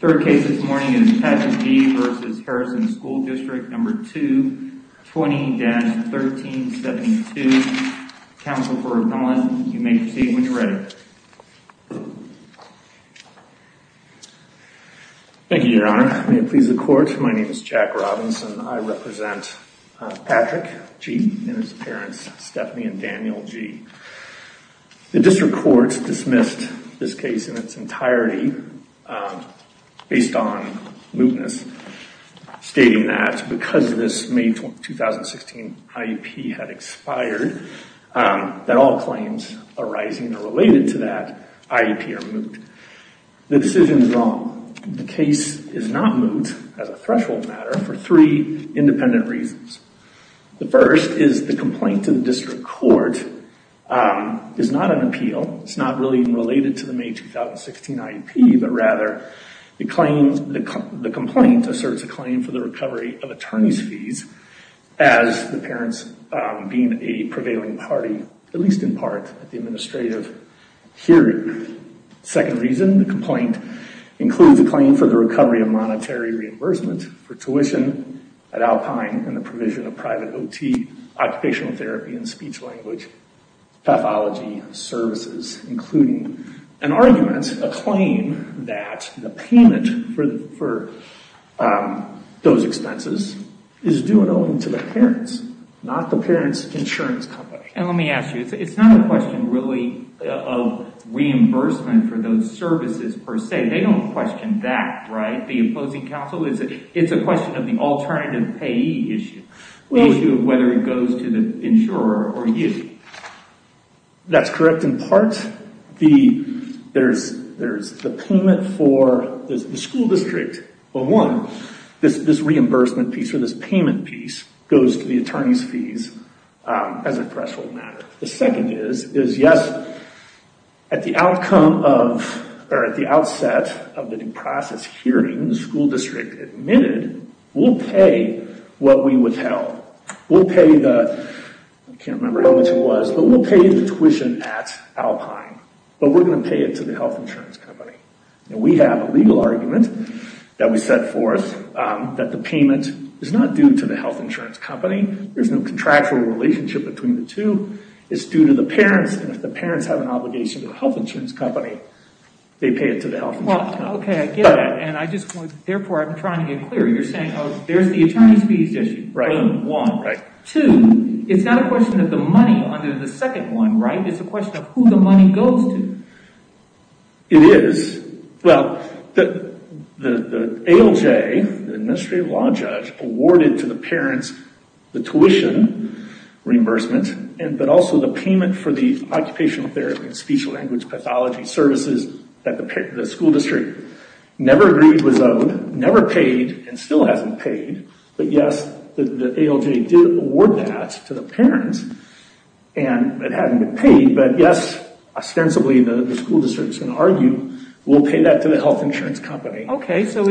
Third case this morning is Patrick G. v. Harrison School District No. 2, 20-1372. Counsel for acknowledgement, you may proceed when you're ready. Thank you, Your Honor. May it please the Court, my name is Jack Robinson. I represent Patrick G. and his parents, Stephanie and Daniel G. The District Court dismissed this case in its entirety based on mootness, stating that because this May 2016 IEP had expired, that all claims arising or related to that IEP are moot. The decision is wrong. The case is not moot as a threshold matter for three is not an appeal. It's not really related to the May 2016 IEP, but rather the complaint asserts a claim for the recovery of attorney's fees as the parents being a prevailing party, at least in part, at the administrative hearing. Second reason, the complaint includes a claim for the recovery of monetary reimbursement for tuition at Alpine and the provision of private OT occupational therapy and speech-language pathology services, including an argument, a claim that the payment for those expenses is due and owing to the parents, not the parents' insurance company. And let me ask you, it's not a question really of reimbursement for those services per se. They don't question that, right? The opposing counsel, it's a question of the alternative payee issue, the issue of whether it goes to the insurer or you. That's correct. In part, there's the payment for the school district, but one, this reimbursement piece or this payment piece goes to the attorney's fees as a threshold matter. The second is, is yes, at the outcome of, or at the outset of the due process hearing, the school district admitted, we'll pay what we withheld. We'll pay the, I can't remember how much it was, but we'll pay the tuition at Alpine, but we're going to pay it to the health insurance company. And we have a legal argument that we set forth that the payment is not due to the health insurance company. It's due to the parents. And if the parents have an obligation to the health insurance company, they pay it to the health insurance company. Well, okay, I get that. And I just want, therefore, I'm trying to get clear. You're saying, oh, there's the attorney's fees issue. Right. One. Right. Two, it's not a question of the money under the second one, right? It's a question of who the money goes to. It is. Well, the ALJ, the Administrative Law Judge, awarded to the parents the tuition reimbursement, but also the payment for the occupational therapy and speech language pathology services that the school district never agreed was owed, never paid, and still hasn't paid. But yes, the ALJ did award that to the parents, and it hadn't been paid. But yes, ostensibly, the school district is going to argue, we'll pay that to the health insurance company. We're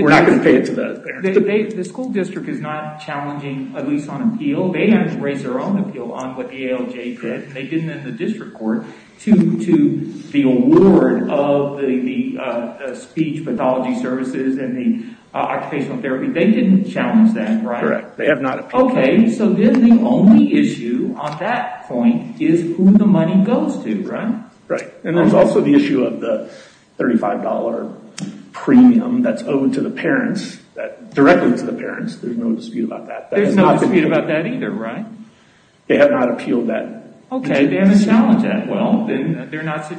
not going to pay it to the parents. The school district is not challenging, at least on appeal. They haven't raised their own appeal on what the ALJ did. They didn't in the district court to the award of the speech pathology services and the occupational therapy. They didn't challenge that, right? Correct. They have not appealed. Okay. So then the only issue on that point is who the money goes to, right? Right. And there's also the issue of the $35 premium that's owed to the parents, directly to the parents. There's no dispute about that. There's no dispute about that either, right? They have not appealed that. Okay. They haven't challenged that. Well, then they're not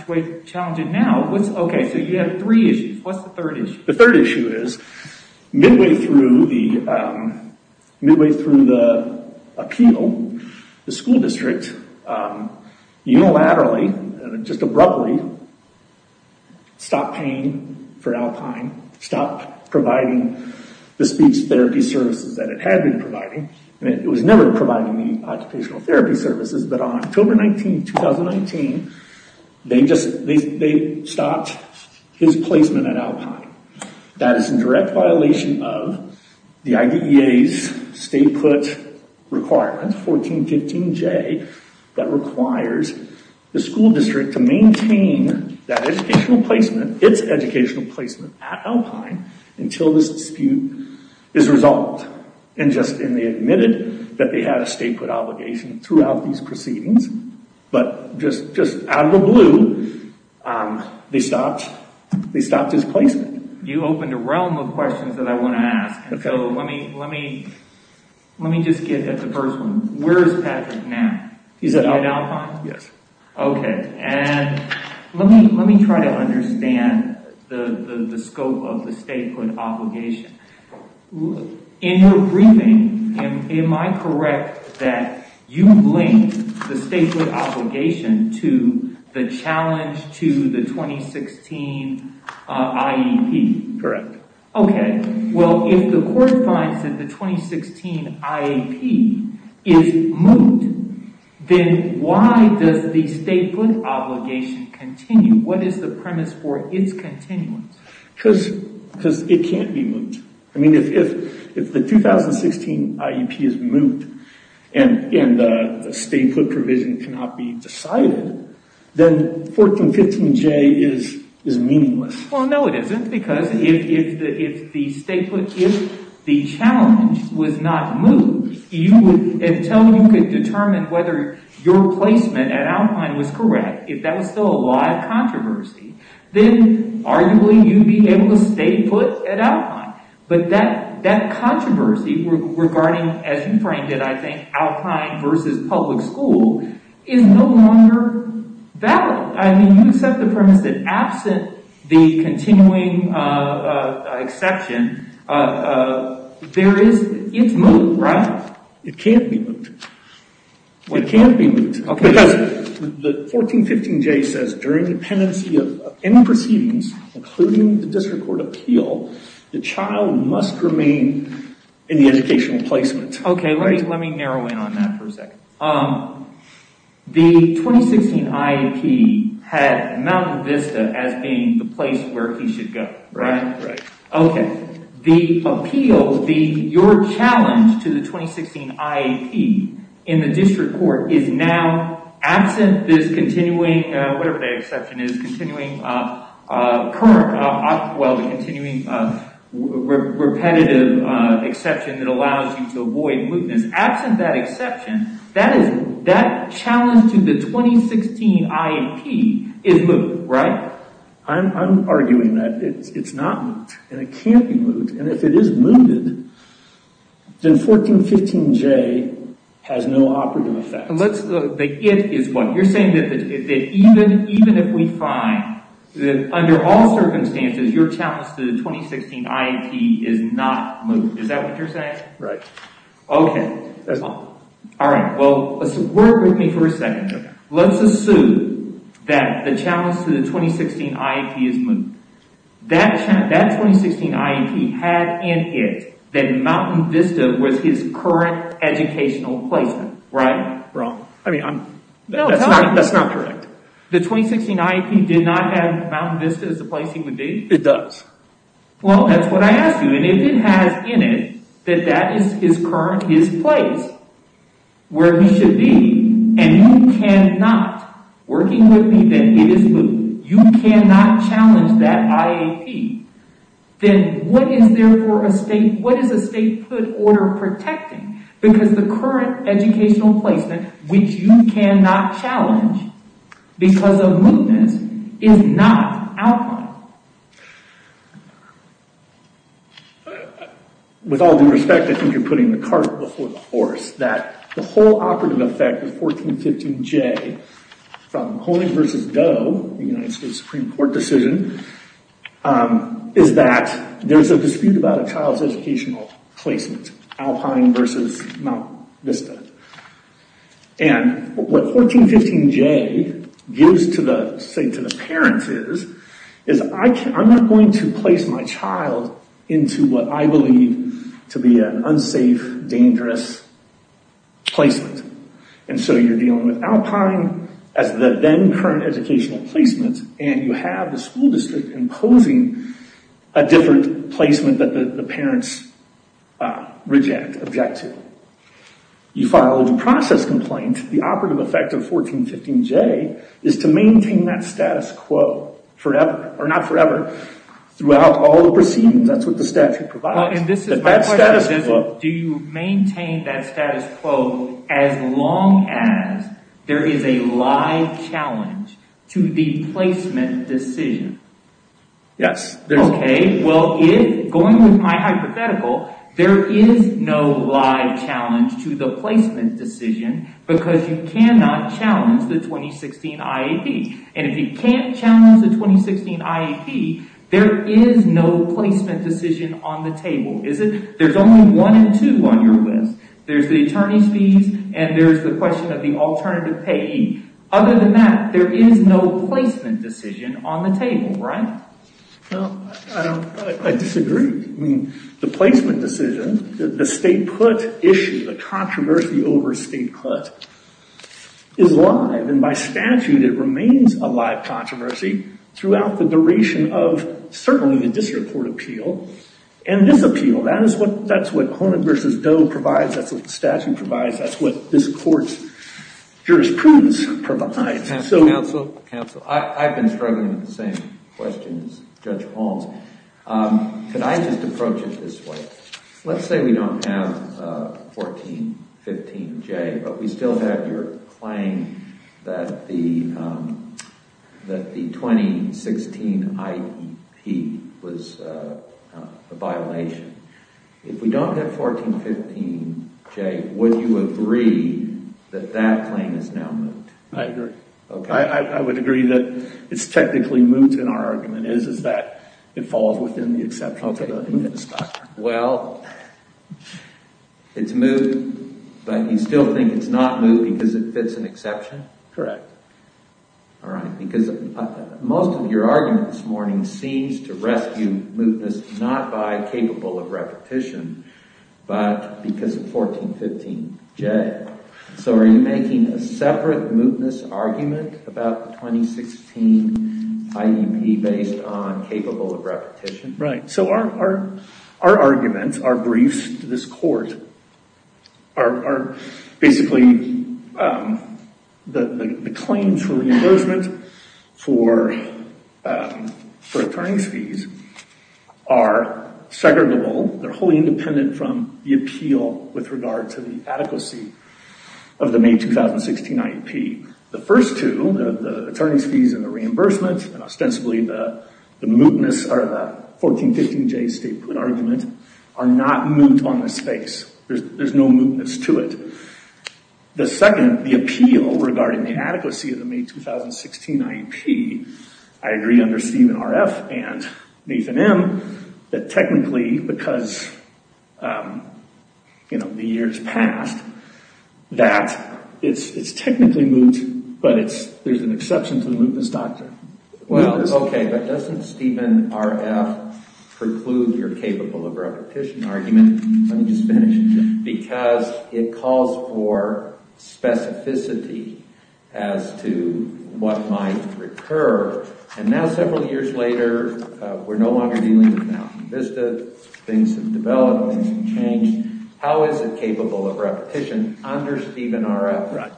challenging now. Okay. So you have three issues. What's the third issue? The third issue is midway through the appeal, the school district unilaterally, just abruptly, stopped paying for Alpine, stopped providing the speech therapy services that it had been providing. And it was never providing the occupational therapy services. But on October 19, 2019, they stopped his placement at Alpine. That is in direct violation of the IDEA's state put requirements, 1415J, that requires the school district to maintain that educational placement, its educational placement at Alpine, until this dispute is resolved. And they admitted that they had a state put obligation throughout these proceedings. But just out of the blue, they stopped his placement. You opened a realm of questions that I want to ask. So let me just get at the first one. Where is Patrick now? He's at Alpine? Yes. Okay. And let me try to understand the scope of the state put obligation. In your briefing, am I correct that you linked the state put obligation to the challenge to the 2016 IEP? Correct. Okay. Well, if the court finds that the 2016 IEP is moot, then why does the state put obligation continue? What is the premise for its continuance? Because it can't be moot. I mean, if the 2016 IEP is moot and the state put provision cannot be decided, then 1415J is meaningless. Well, no, it isn't. Because if the challenge was not moot, until you could determine whether your placement at Alpine was correct, if that was still a live controversy, then arguably you'd be able to stay put at Alpine. But that controversy regarding, as you framed it, I think, Alpine versus public school is no longer valid. I mean, you said the premise that absent the continuing exception, it's moot, right? It can't be moot. It can't be moot. Because the 1415J says during the pendency of any proceedings, including the district court appeal, the child must remain in the educational placement. Okay, let me narrow in on that for a second. The 2016 IEP had Mountain Vista as being the place where he should go, right? Okay. The appeal, your challenge to the 2016 IEP in the district court is now absent this continuing, whatever the exception is, continuing current, well, the continuing repetitive exception that allows you to avoid mootness. Absent that exception, that challenge to the 2016 IEP is moot, right? I'm arguing that it's not moot. And it can't be moot. And if it is mooted, then 1415J has no operative effect. The it is what? You're saying that even if we find that under all circumstances, your challenge to the 2016 IEP is not moot. Is that what you're saying? Right. Okay. All right. Well, work with me for a second. Let's assume that the challenge to the 2016 IEP is moot. That 2016 IEP had in it that Mountain Vista was his current educational placement, right? Wrong. I mean, that's not correct. The 2016 IEP did not have Mountain Vista as the place he would be? It does. Well, that's what I asked you. And if it has in it that that is his current, his place where he should be, and you cannot, working with me, that it is moot. You cannot challenge that IEP. Then what is there for a state, what is a state put order protecting? Because the current educational placement, which you cannot challenge because of mootness, is not Alpine. With all due respect, I think you're putting the cart before the horse, that the whole operative effect of 1415J from Hoening versus Doe, the United States Supreme Court decision, is that there's a dispute about a child's educational placement, Alpine versus Mountain Vista. And what 1415J gives to the parents is, I'm not going to place my child into what I believe to be an unsafe, dangerous placement. And so you're dealing with Alpine as the then current educational placement, and you have the school district imposing a different placement that the parents reject, object to. You filed a process complaint. The operative effect of 1415J is to maintain that status quo forever, or not forever, throughout all the proceedings. That's what the statute provides. That status quo... To the placement decision. Yes. Okay. Well, going with my hypothetical, there is no live challenge to the placement decision, because you cannot challenge the 2016 IAP. And if you can't challenge the 2016 IAP, there is no placement decision on the table, is it? There's only one and two on your list. There's the attorney's fees, and there's the question of the alternative payee. Other than that, there is no placement decision on the table, right? Well, I don't... I disagree. I mean, the placement decision, the state put issue, the controversy over state put, is live. And by statute, it remains a live controversy throughout the duration of, certainly, the district court appeal, and this appeal. That's what Conant v. Doe provides. That's what the statute provides. That's what this court's asking. Counsel, I've been struggling with the same question as Judge Holmes. Can I just approach it this way? Let's say we don't have 1415J, but we still have your claim that the 2016 IAP was a violation. If we don't have 1415J, would you agree that that claim is now moved? I agree. I would agree that it's technically moved, and our argument is that it falls within the exception to the mootness doctrine. Well, it's moved, but you still think it's not moved because it fits an exception? Correct. All right. Because most of your argument this morning seems to rescue mootness not by capable of repetition, but because of 1415J. So are you making a separate mootness argument about the 2016 IAP based on capable of repetition? Right. So our arguments, our briefs to this court, are basically the claims for reimbursement for attorney's fees are segregable. They're wholly independent from the appeal with regard to the adequacy of the May 2016 IAP. The first two, the attorney's fees and the reimbursement, and ostensibly the mootness or the 1415J statement argument, are not moot on this case. There's no mootness to it. The second, the appeal regarding the adequacy of the May 2016 IAP, I agree under Stephen R. F. and Nathan M. that technically, because the years passed, that it's technically moot, but there's an exception to the mootness doctrine. Well, OK, but doesn't Stephen R. F. preclude your capable of repetition argument? Let me recur. And now, several years later, we're no longer dealing with Mountain Vista. Things have developed. Things have changed. How is it capable of repetition under Stephen R. F.? Right.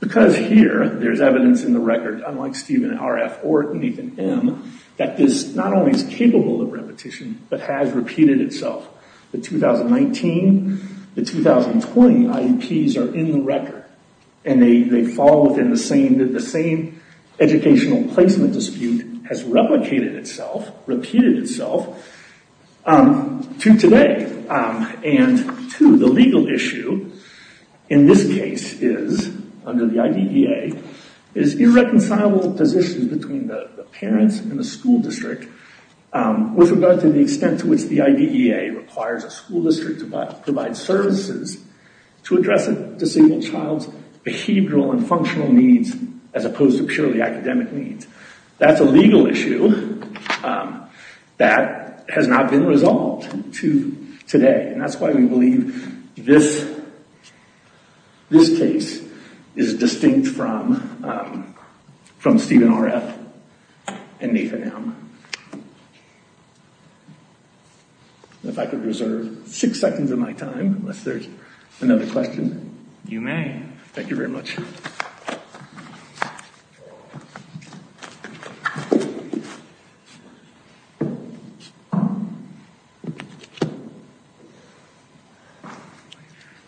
Because here, there's evidence in the record, unlike Stephen R. F. or Nathan M., that this not only is capable of repetition, but has repeated itself. The 2019, the 2020 IAPs are in the record, and they fall within the same educational placement dispute has replicated itself, repeated itself, to today. And two, the legal issue in this case is, under the IDEA, is irreconcilable positions between the parents and the school district with regard to the extent to which the IDEA requires a school district to provide services to address a disabled child's behavioral and functional needs, as opposed to purely academic needs. That's a legal issue that has not been resolved to today. And that's why we believe this case is distinct from Stephen R. F. and Nathan M. If I could reserve six seconds of my time, unless there's another question. You may. Thank you very much.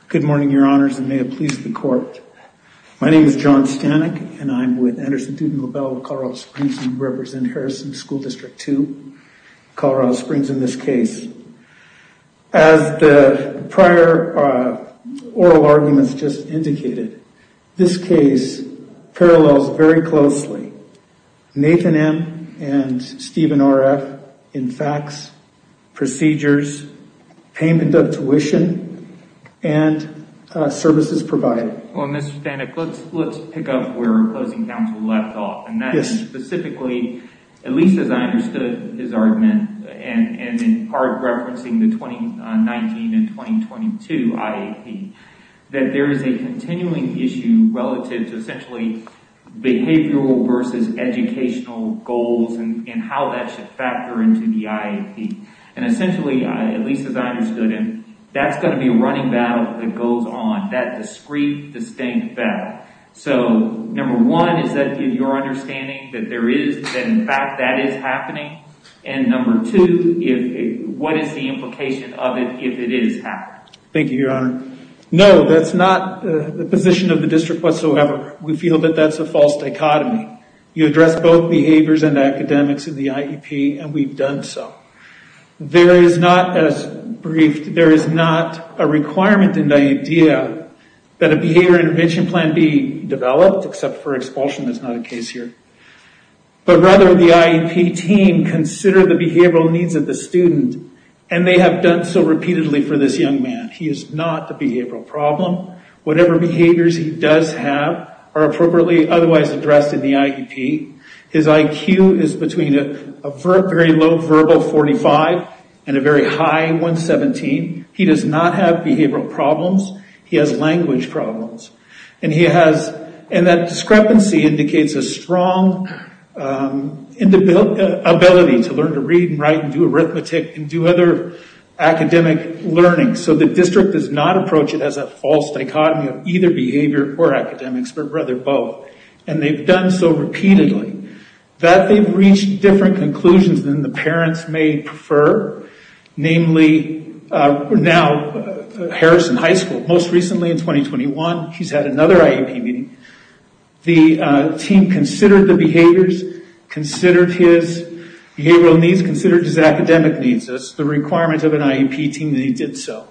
Good morning, your honors, and may it please the Colorado Springs and represent Harrison School District 2, Colorado Springs, in this case. As the prior oral arguments just indicated, this case parallels very closely Nathan M. and Stephen R. F. in facts, procedures, payment of tuition, and services provided. Well, Mr. Stanek, let's pick up where Closing Counsel left off, and that is specifically, at least as I understood his argument, and in part referencing the 2019 and 2022 IAP, that there is a continuing issue relative to essentially behavioral versus educational goals and how that should factor into the IAP. And essentially, at least as I understood him, that's going to be a running battle that goes on, that discreet, distinct battle. So, number one, is that your understanding that there is, that in fact that is happening? And number two, what is the implication of it if it is happening? Thank you, your honor. No, that's not the position of the district whatsoever. We feel that that's a false dichotomy. You address both behaviors and academics in the IAP, and we've done so. There is not, as briefed, there is not a requirement and idea that a behavior intervention plan be developed, except for expulsion, that's not the case here. But rather, the IAP team consider the behavioral needs of the student, and they have done so repeatedly for this young man. He is not the behavioral problem. Whatever behaviors he does have are appropriately otherwise addressed in the IAP. His IQ is between a very low verbal 45 and a very high 117. He does not have behavioral problems. He has language problems. And he has, and that discrepancy indicates a strong ability to learn to read and write and do arithmetic and do other academic learning. So, the district does not approach it as a false dichotomy of either behavior or academics, but rather both. And they've done so repeatedly that they've reached different conclusions than the parents may prefer. Namely, now Harrison High School, most recently in 2021, he's had another IAP meeting. The team considered the behaviors, considered his behavioral needs, considered his academic needs. That's the requirement of an IAP team that he did so.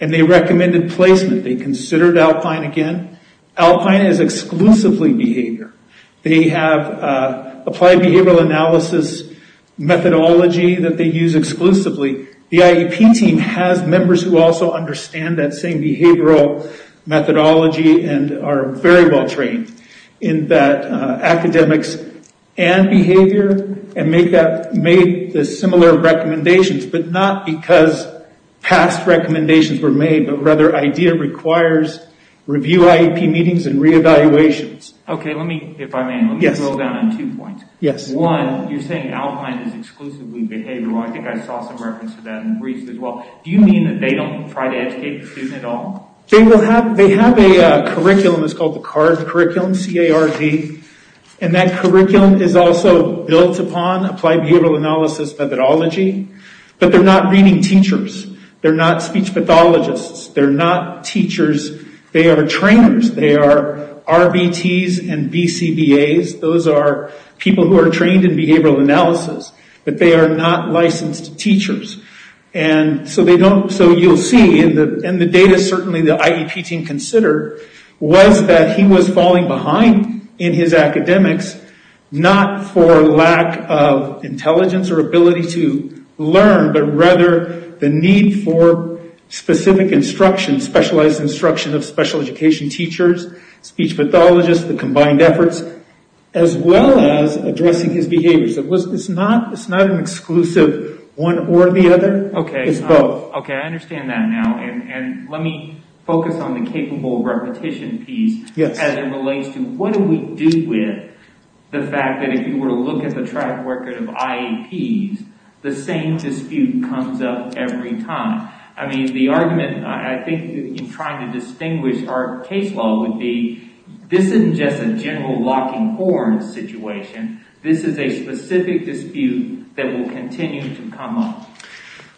And they recommended placement. They considered Alpine again. Alpine is exclusively behavior. They have applied behavioral analysis methodology that they use exclusively. The IAP team has members who also understand that same behavioral methodology and are very well trained in that academics and behavior and made the similar recommendations, but not because past recommendations were made, but rather idea requires review IAP meetings and reevaluations. Okay, let me, if I may, let me go down on two points. One, you're saying Alpine is exclusively behavioral. I think I saw some reference to that in the briefs as well. Do you mean that they don't try to educate the student at all? They will have, they have a curriculum. It's called the CARD curriculum, C-A-R-D. And that curriculum is also built upon applied behavioral analysis methodology, but they're not reading teachers. They're not speech pathologists. They're not teachers. They are trainers. They are RVTs and VCBAs. Those are people who are trained in behavioral analysis, but they are not licensed teachers. And so they don't, so you'll see in the, in the data, certainly the IAP team considered was that he was falling behind in his academics, not for lack of intelligence or ability to learn, but rather the need for specific instruction, specialized instruction of special education teachers, speech pathologists, the combined efforts, as well as addressing his behaviors. It was, it's not, it's not an exclusive one or the other. Okay. It's both. Okay. I understand that now. And let me focus on the capable repetition piece as it relates to what do we do with the fact that if you were to look at the track record of IAPs, the same dispute comes up every time. I mean, the argument, I think, in trying to distinguish our case law would be, this isn't just a general locking horn situation. This is a specific dispute that will continue to come up.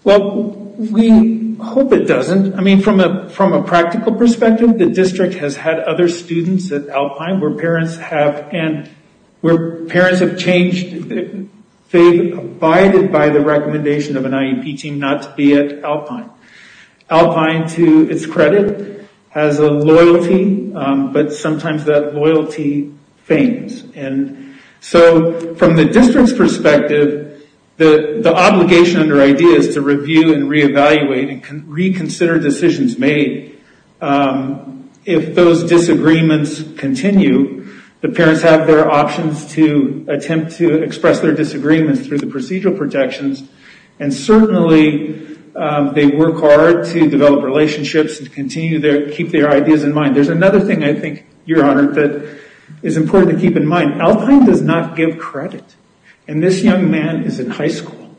Well, we hope it doesn't. I mean, from a, from a practical perspective, the district has had other students at Alpine where parents have, and where parents have changed, they've abided by the recommendation of an IAP team not to be at Alpine. Alpine, to its credit, has a loyalty, but sometimes that loyalty fails. And so from the district's perspective, the obligation under IDEA is to review and reevaluate and reconsider decisions made if those disagreements continue. The parents have their options to attempt to express their disagreements through the procedural protections. And certainly, they work hard to develop relationships and continue to keep their ideas in mind. There's another thing I think, Your Honor, that is important to keep in mind. Alpine does not give credit. And this young man is in high school.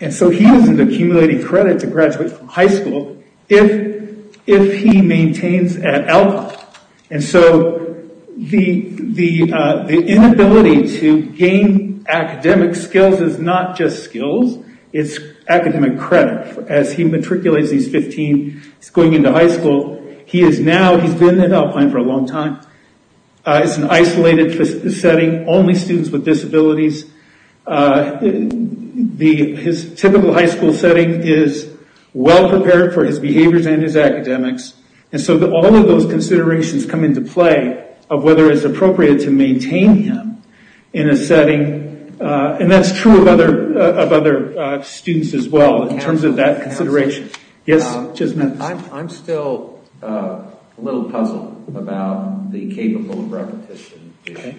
And so he isn't accumulating credit to graduate from high school if, if he maintains at Alpine. And so the, the, the inability to gain academic skills is not just skills, it's academic credit. As he matriculates, he's 15, he's going into high school. He is now, he's been at Alpine for a long time. It's an isolated setting, only students with disabilities. The, his typical high school setting is well prepared for his behaviors and his academics. And so all of those considerations come into play of whether it's appropriate to maintain him in a setting. And that's true of other, of other students as well, in terms of that consideration. Yes, just a minute. I'm still a little puzzled about the capable repetition issue.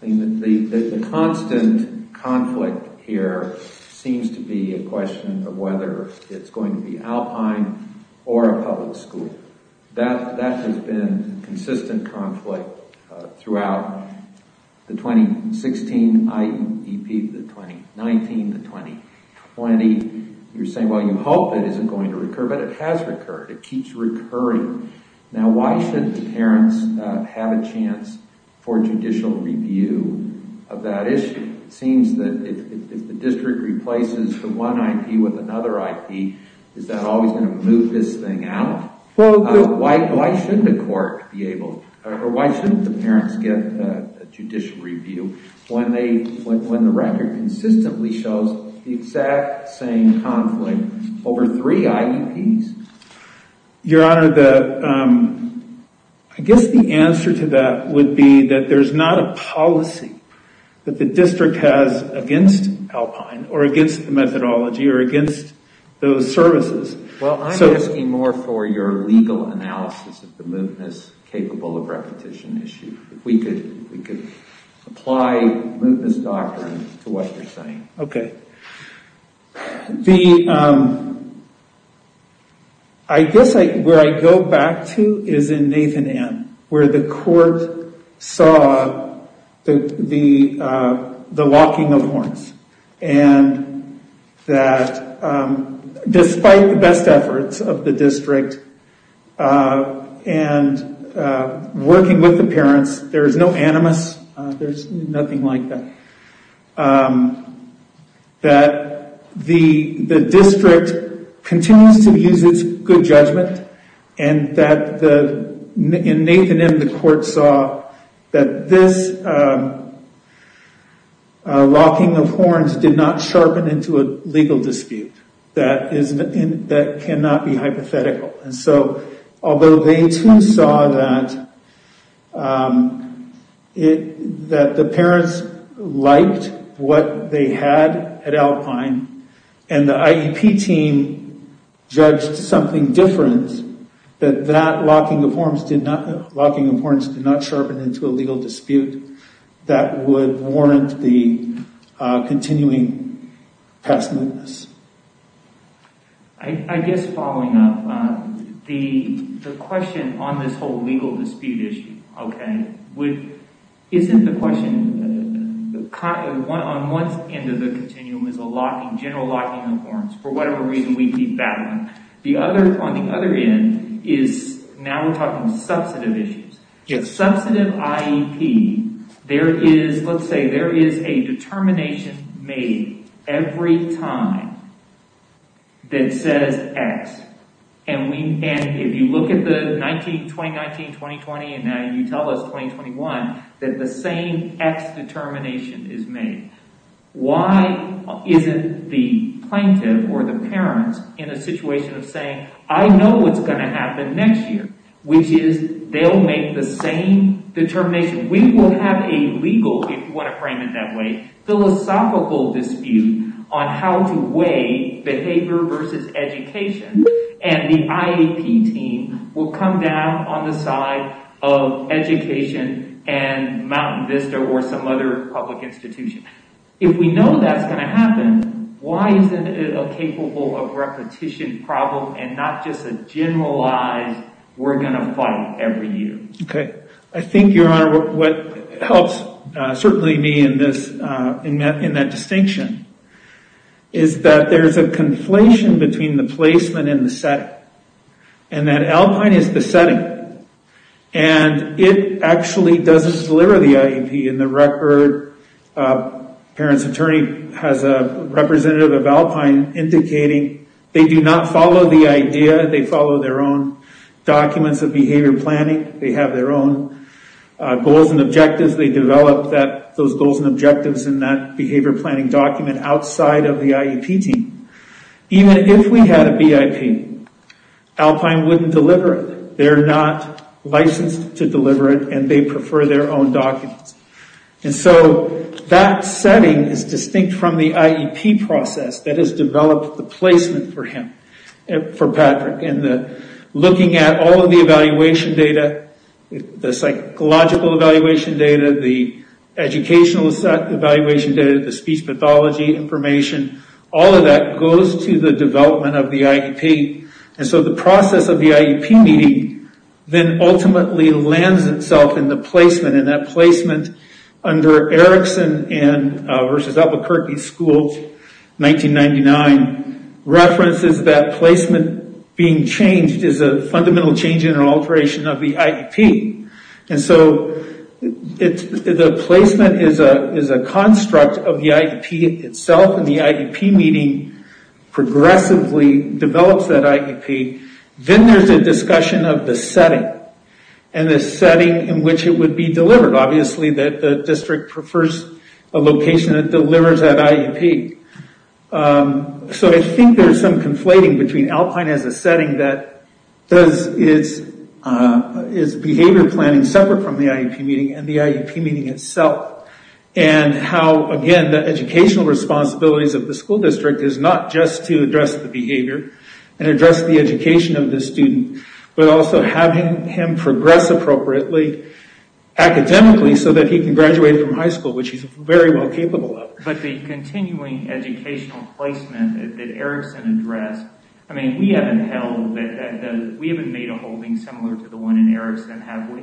The constant conflict here seems to be a question of whether it's going to be Alpine or a public school. That, that has been consistent conflict throughout the 2016 IEP, the 2019, the 2020. You're saying, well, you hope it isn't going to recur, but it has recurred. It keeps recurring. Now, why should the parents have a chance for judicial review of that issue? It seems that if the district replaces the one IEP with another IEP, is that always going to move this thing out? Why, why shouldn't the court be able, or why shouldn't the parents get a judicial review when they, when the record consistently shows the exact same conflict over three IEPs? Your Honor, the, I guess the answer to that would be that there's not a policy that the district has against Alpine or against the methodology or against those services. Well, I'm asking more for your legal analysis of the movements capable of repetition issue. If we could, if we could apply movements doctrine to what you're saying. Okay. The, I guess I, where I go back to is in Nathan-Ann, where the court saw the, the, the locking of horns and that despite the best efforts of the district and working with the parents, there is no animus, there's nothing like that, that the, the district continues to use its good judgment and that the, in Nathan-Ann, the court saw that this locking of horns did not sharpen into a legal dispute. That is, that cannot be hypothetical. And so, although they too saw that it, that the parents liked what they had at Alpine and the IEP team judged something different, that that locking of horns did not, locking of horns did not sharpen into a legal dispute that would warrant the continuing passiveness. I, I guess following up, the, the question on this whole legal dispute issue, okay, would, isn't the question, on one end of the continuum is a locking, general locking of horns, for whatever reason we keep The other, on the other end, is now we're talking substantive issues. If substantive IEP, there is, let's say there is a determination made every time that says X. And we, and if you look at the 19, 2019, 2020, and now you tell us 2021, that the same X determination is made. Why isn't the plaintiff or the parents in a situation of saying, I know what's going to happen next year, which is they'll make the same determination. We will have a legal, if you want to frame it that way, philosophical dispute on how to weigh behavior versus education. And the IEP team will come down on the side of education and Mountain Vista or some other public institution. If we know that's going to happen, why isn't it a capable of repetition problem and not just a generalized, we're going to fight every year? Okay, I think your honor, what helps certainly me in this, in that, in that distinction, is that there's a conflation between the placement and the setting. And that Alpine is the setting. And it actually does deliver the IEP in the record parents attorney has a representative of Alpine indicating they do not follow the idea. They follow their own documents of behavior planning. They have their own goals and objectives. They develop that, those goals and objectives in that behavior planning document outside of the IEP team. Even if we had a BIP, Alpine wouldn't deliver it. They're not licensed to deliver it and they setting is distinct from the IEP process that has developed the placement for him, for Patrick. And looking at all of the evaluation data, the psychological evaluation data, the educational evaluation data, the speech pathology information, all of that goes to the development of the IEP. And so the process of the IEP meeting then ultimately lands itself in the placement. And that placement under Erickson and versus Albuquerque School, 1999, references that placement being changed is a fundamental change in an alteration of the IEP. And so it's, the placement is a, is a construct of the IEP itself. And the IEP meeting progressively develops that IEP. Then there's a discussion of the setting. And the setting in which it would be delivered. Obviously that the district prefers a location that delivers that IEP. So I think there's some conflating between Alpine as a setting that does its, its behavior planning separate from the IEP meeting and the IEP meeting itself. And how, again, the educational responsibilities of the school district is not just to address the behavior and address the education of the student, but also having him progress appropriately academically so that he can graduate from high school, which he's very well capable of. But the continuing educational placement that Erickson addressed, I mean, we haven't held, we haven't made a holding similar to the one in Erickson, have we?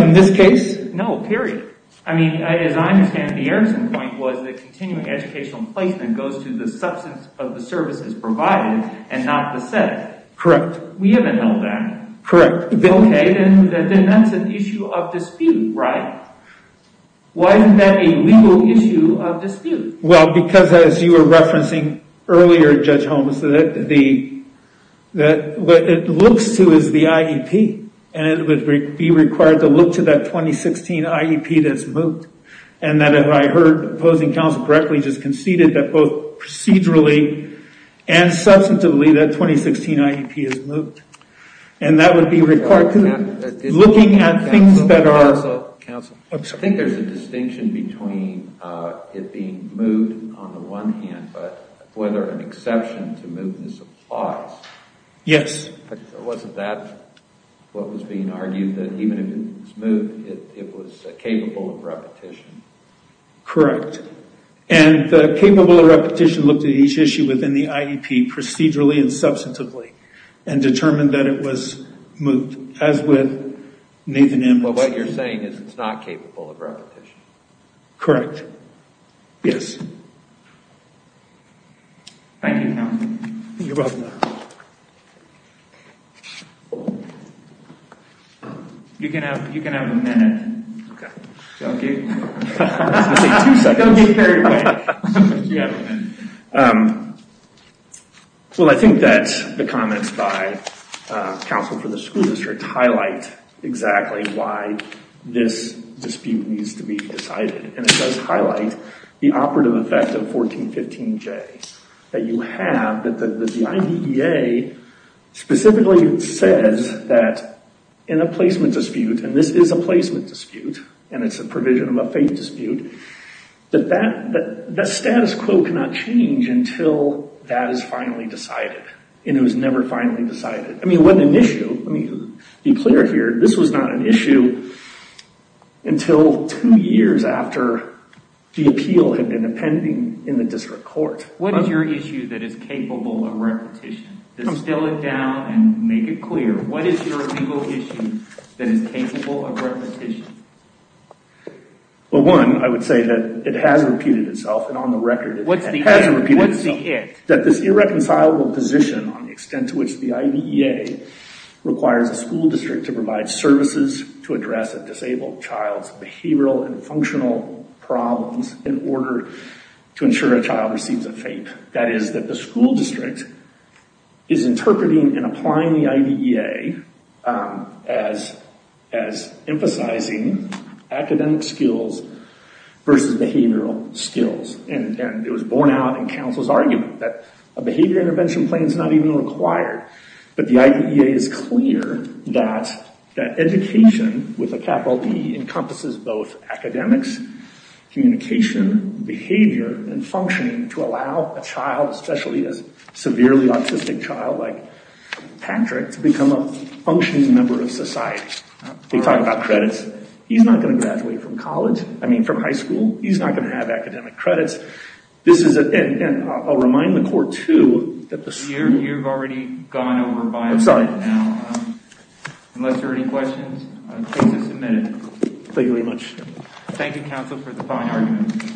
In this case? No, period. I mean, as I understand the Erickson point was that continuing educational placement goes to the substance of the services provided and not the setting. Correct. We haven't held that. Correct. Okay, then that's an issue of dispute, right? Why isn't that a legal issue of dispute? Well, because as you were referencing earlier, Judge Holmes, that the, that what it looks to is the IEP. And it would be required to look to that 2016 IEP that's moved. And that if I heard opposing counsel correctly, just conceded that both procedurally and substantively that 2016 IEP is moved. And that would be required to looking at things that are... Counsel, counsel. I'm sorry. I think there's a distinction between it being moved on the one hand, but whether an exception to move this applies. Yes. Wasn't that what was being argued that even if it was moved, it was capable of repetition? Correct. And the capable of repetition looked at each issue within the IEP procedurally and substantively and determined that it was moved. As with Nathan M. But what you're saying is it's not capable of repetition. Correct. Yes. Thank you, counsel. You're welcome. You can have, you can have a minute. Okay. Well, I think that the comments by counsel for the school district highlight exactly why this dispute needs to be decided. And it does highlight the operative effect of 1415J that you have, that the IDEA specifically says that in a placement dispute, and this is a placement dispute, and it's a provision of a faith dispute, that that status quo cannot change until that is finally decided. And it was never finally decided. I mean, it wasn't an issue. Let me be clear here. This was not an issue until two years after the appeal had been appending in the district court. What is your issue that is capable of repetition? Just spell it down and make it clear. What is your legal issue that is capable of repetition? Well, one, I would say that it has repeated itself. And on the record, it has repeated itself. What's the it? That this irreconcilable position on the extent to which the IDEA requires a school district to provide services to address a disabled child's behavioral and That is that the school district is interpreting and applying the IDEA as emphasizing academic skills versus behavioral skills. And it was borne out in counsel's argument that a behavior intervention plan is not even required. But the IDEA is clear that education, with a capital D, encompasses both academics, communication, behavior, and functioning to allow a child, especially a severely autistic child like Patrick, to become a functioning member of society. They talk about credits. He's not going to graduate from college. I mean, from high school. He's not going to have academic credits. This is, and I'll remind the court, too, that the You've already gone over by now. Unless there are any questions, the case is submitted. Thank you very much. Thank you, counsel, for the fine argument.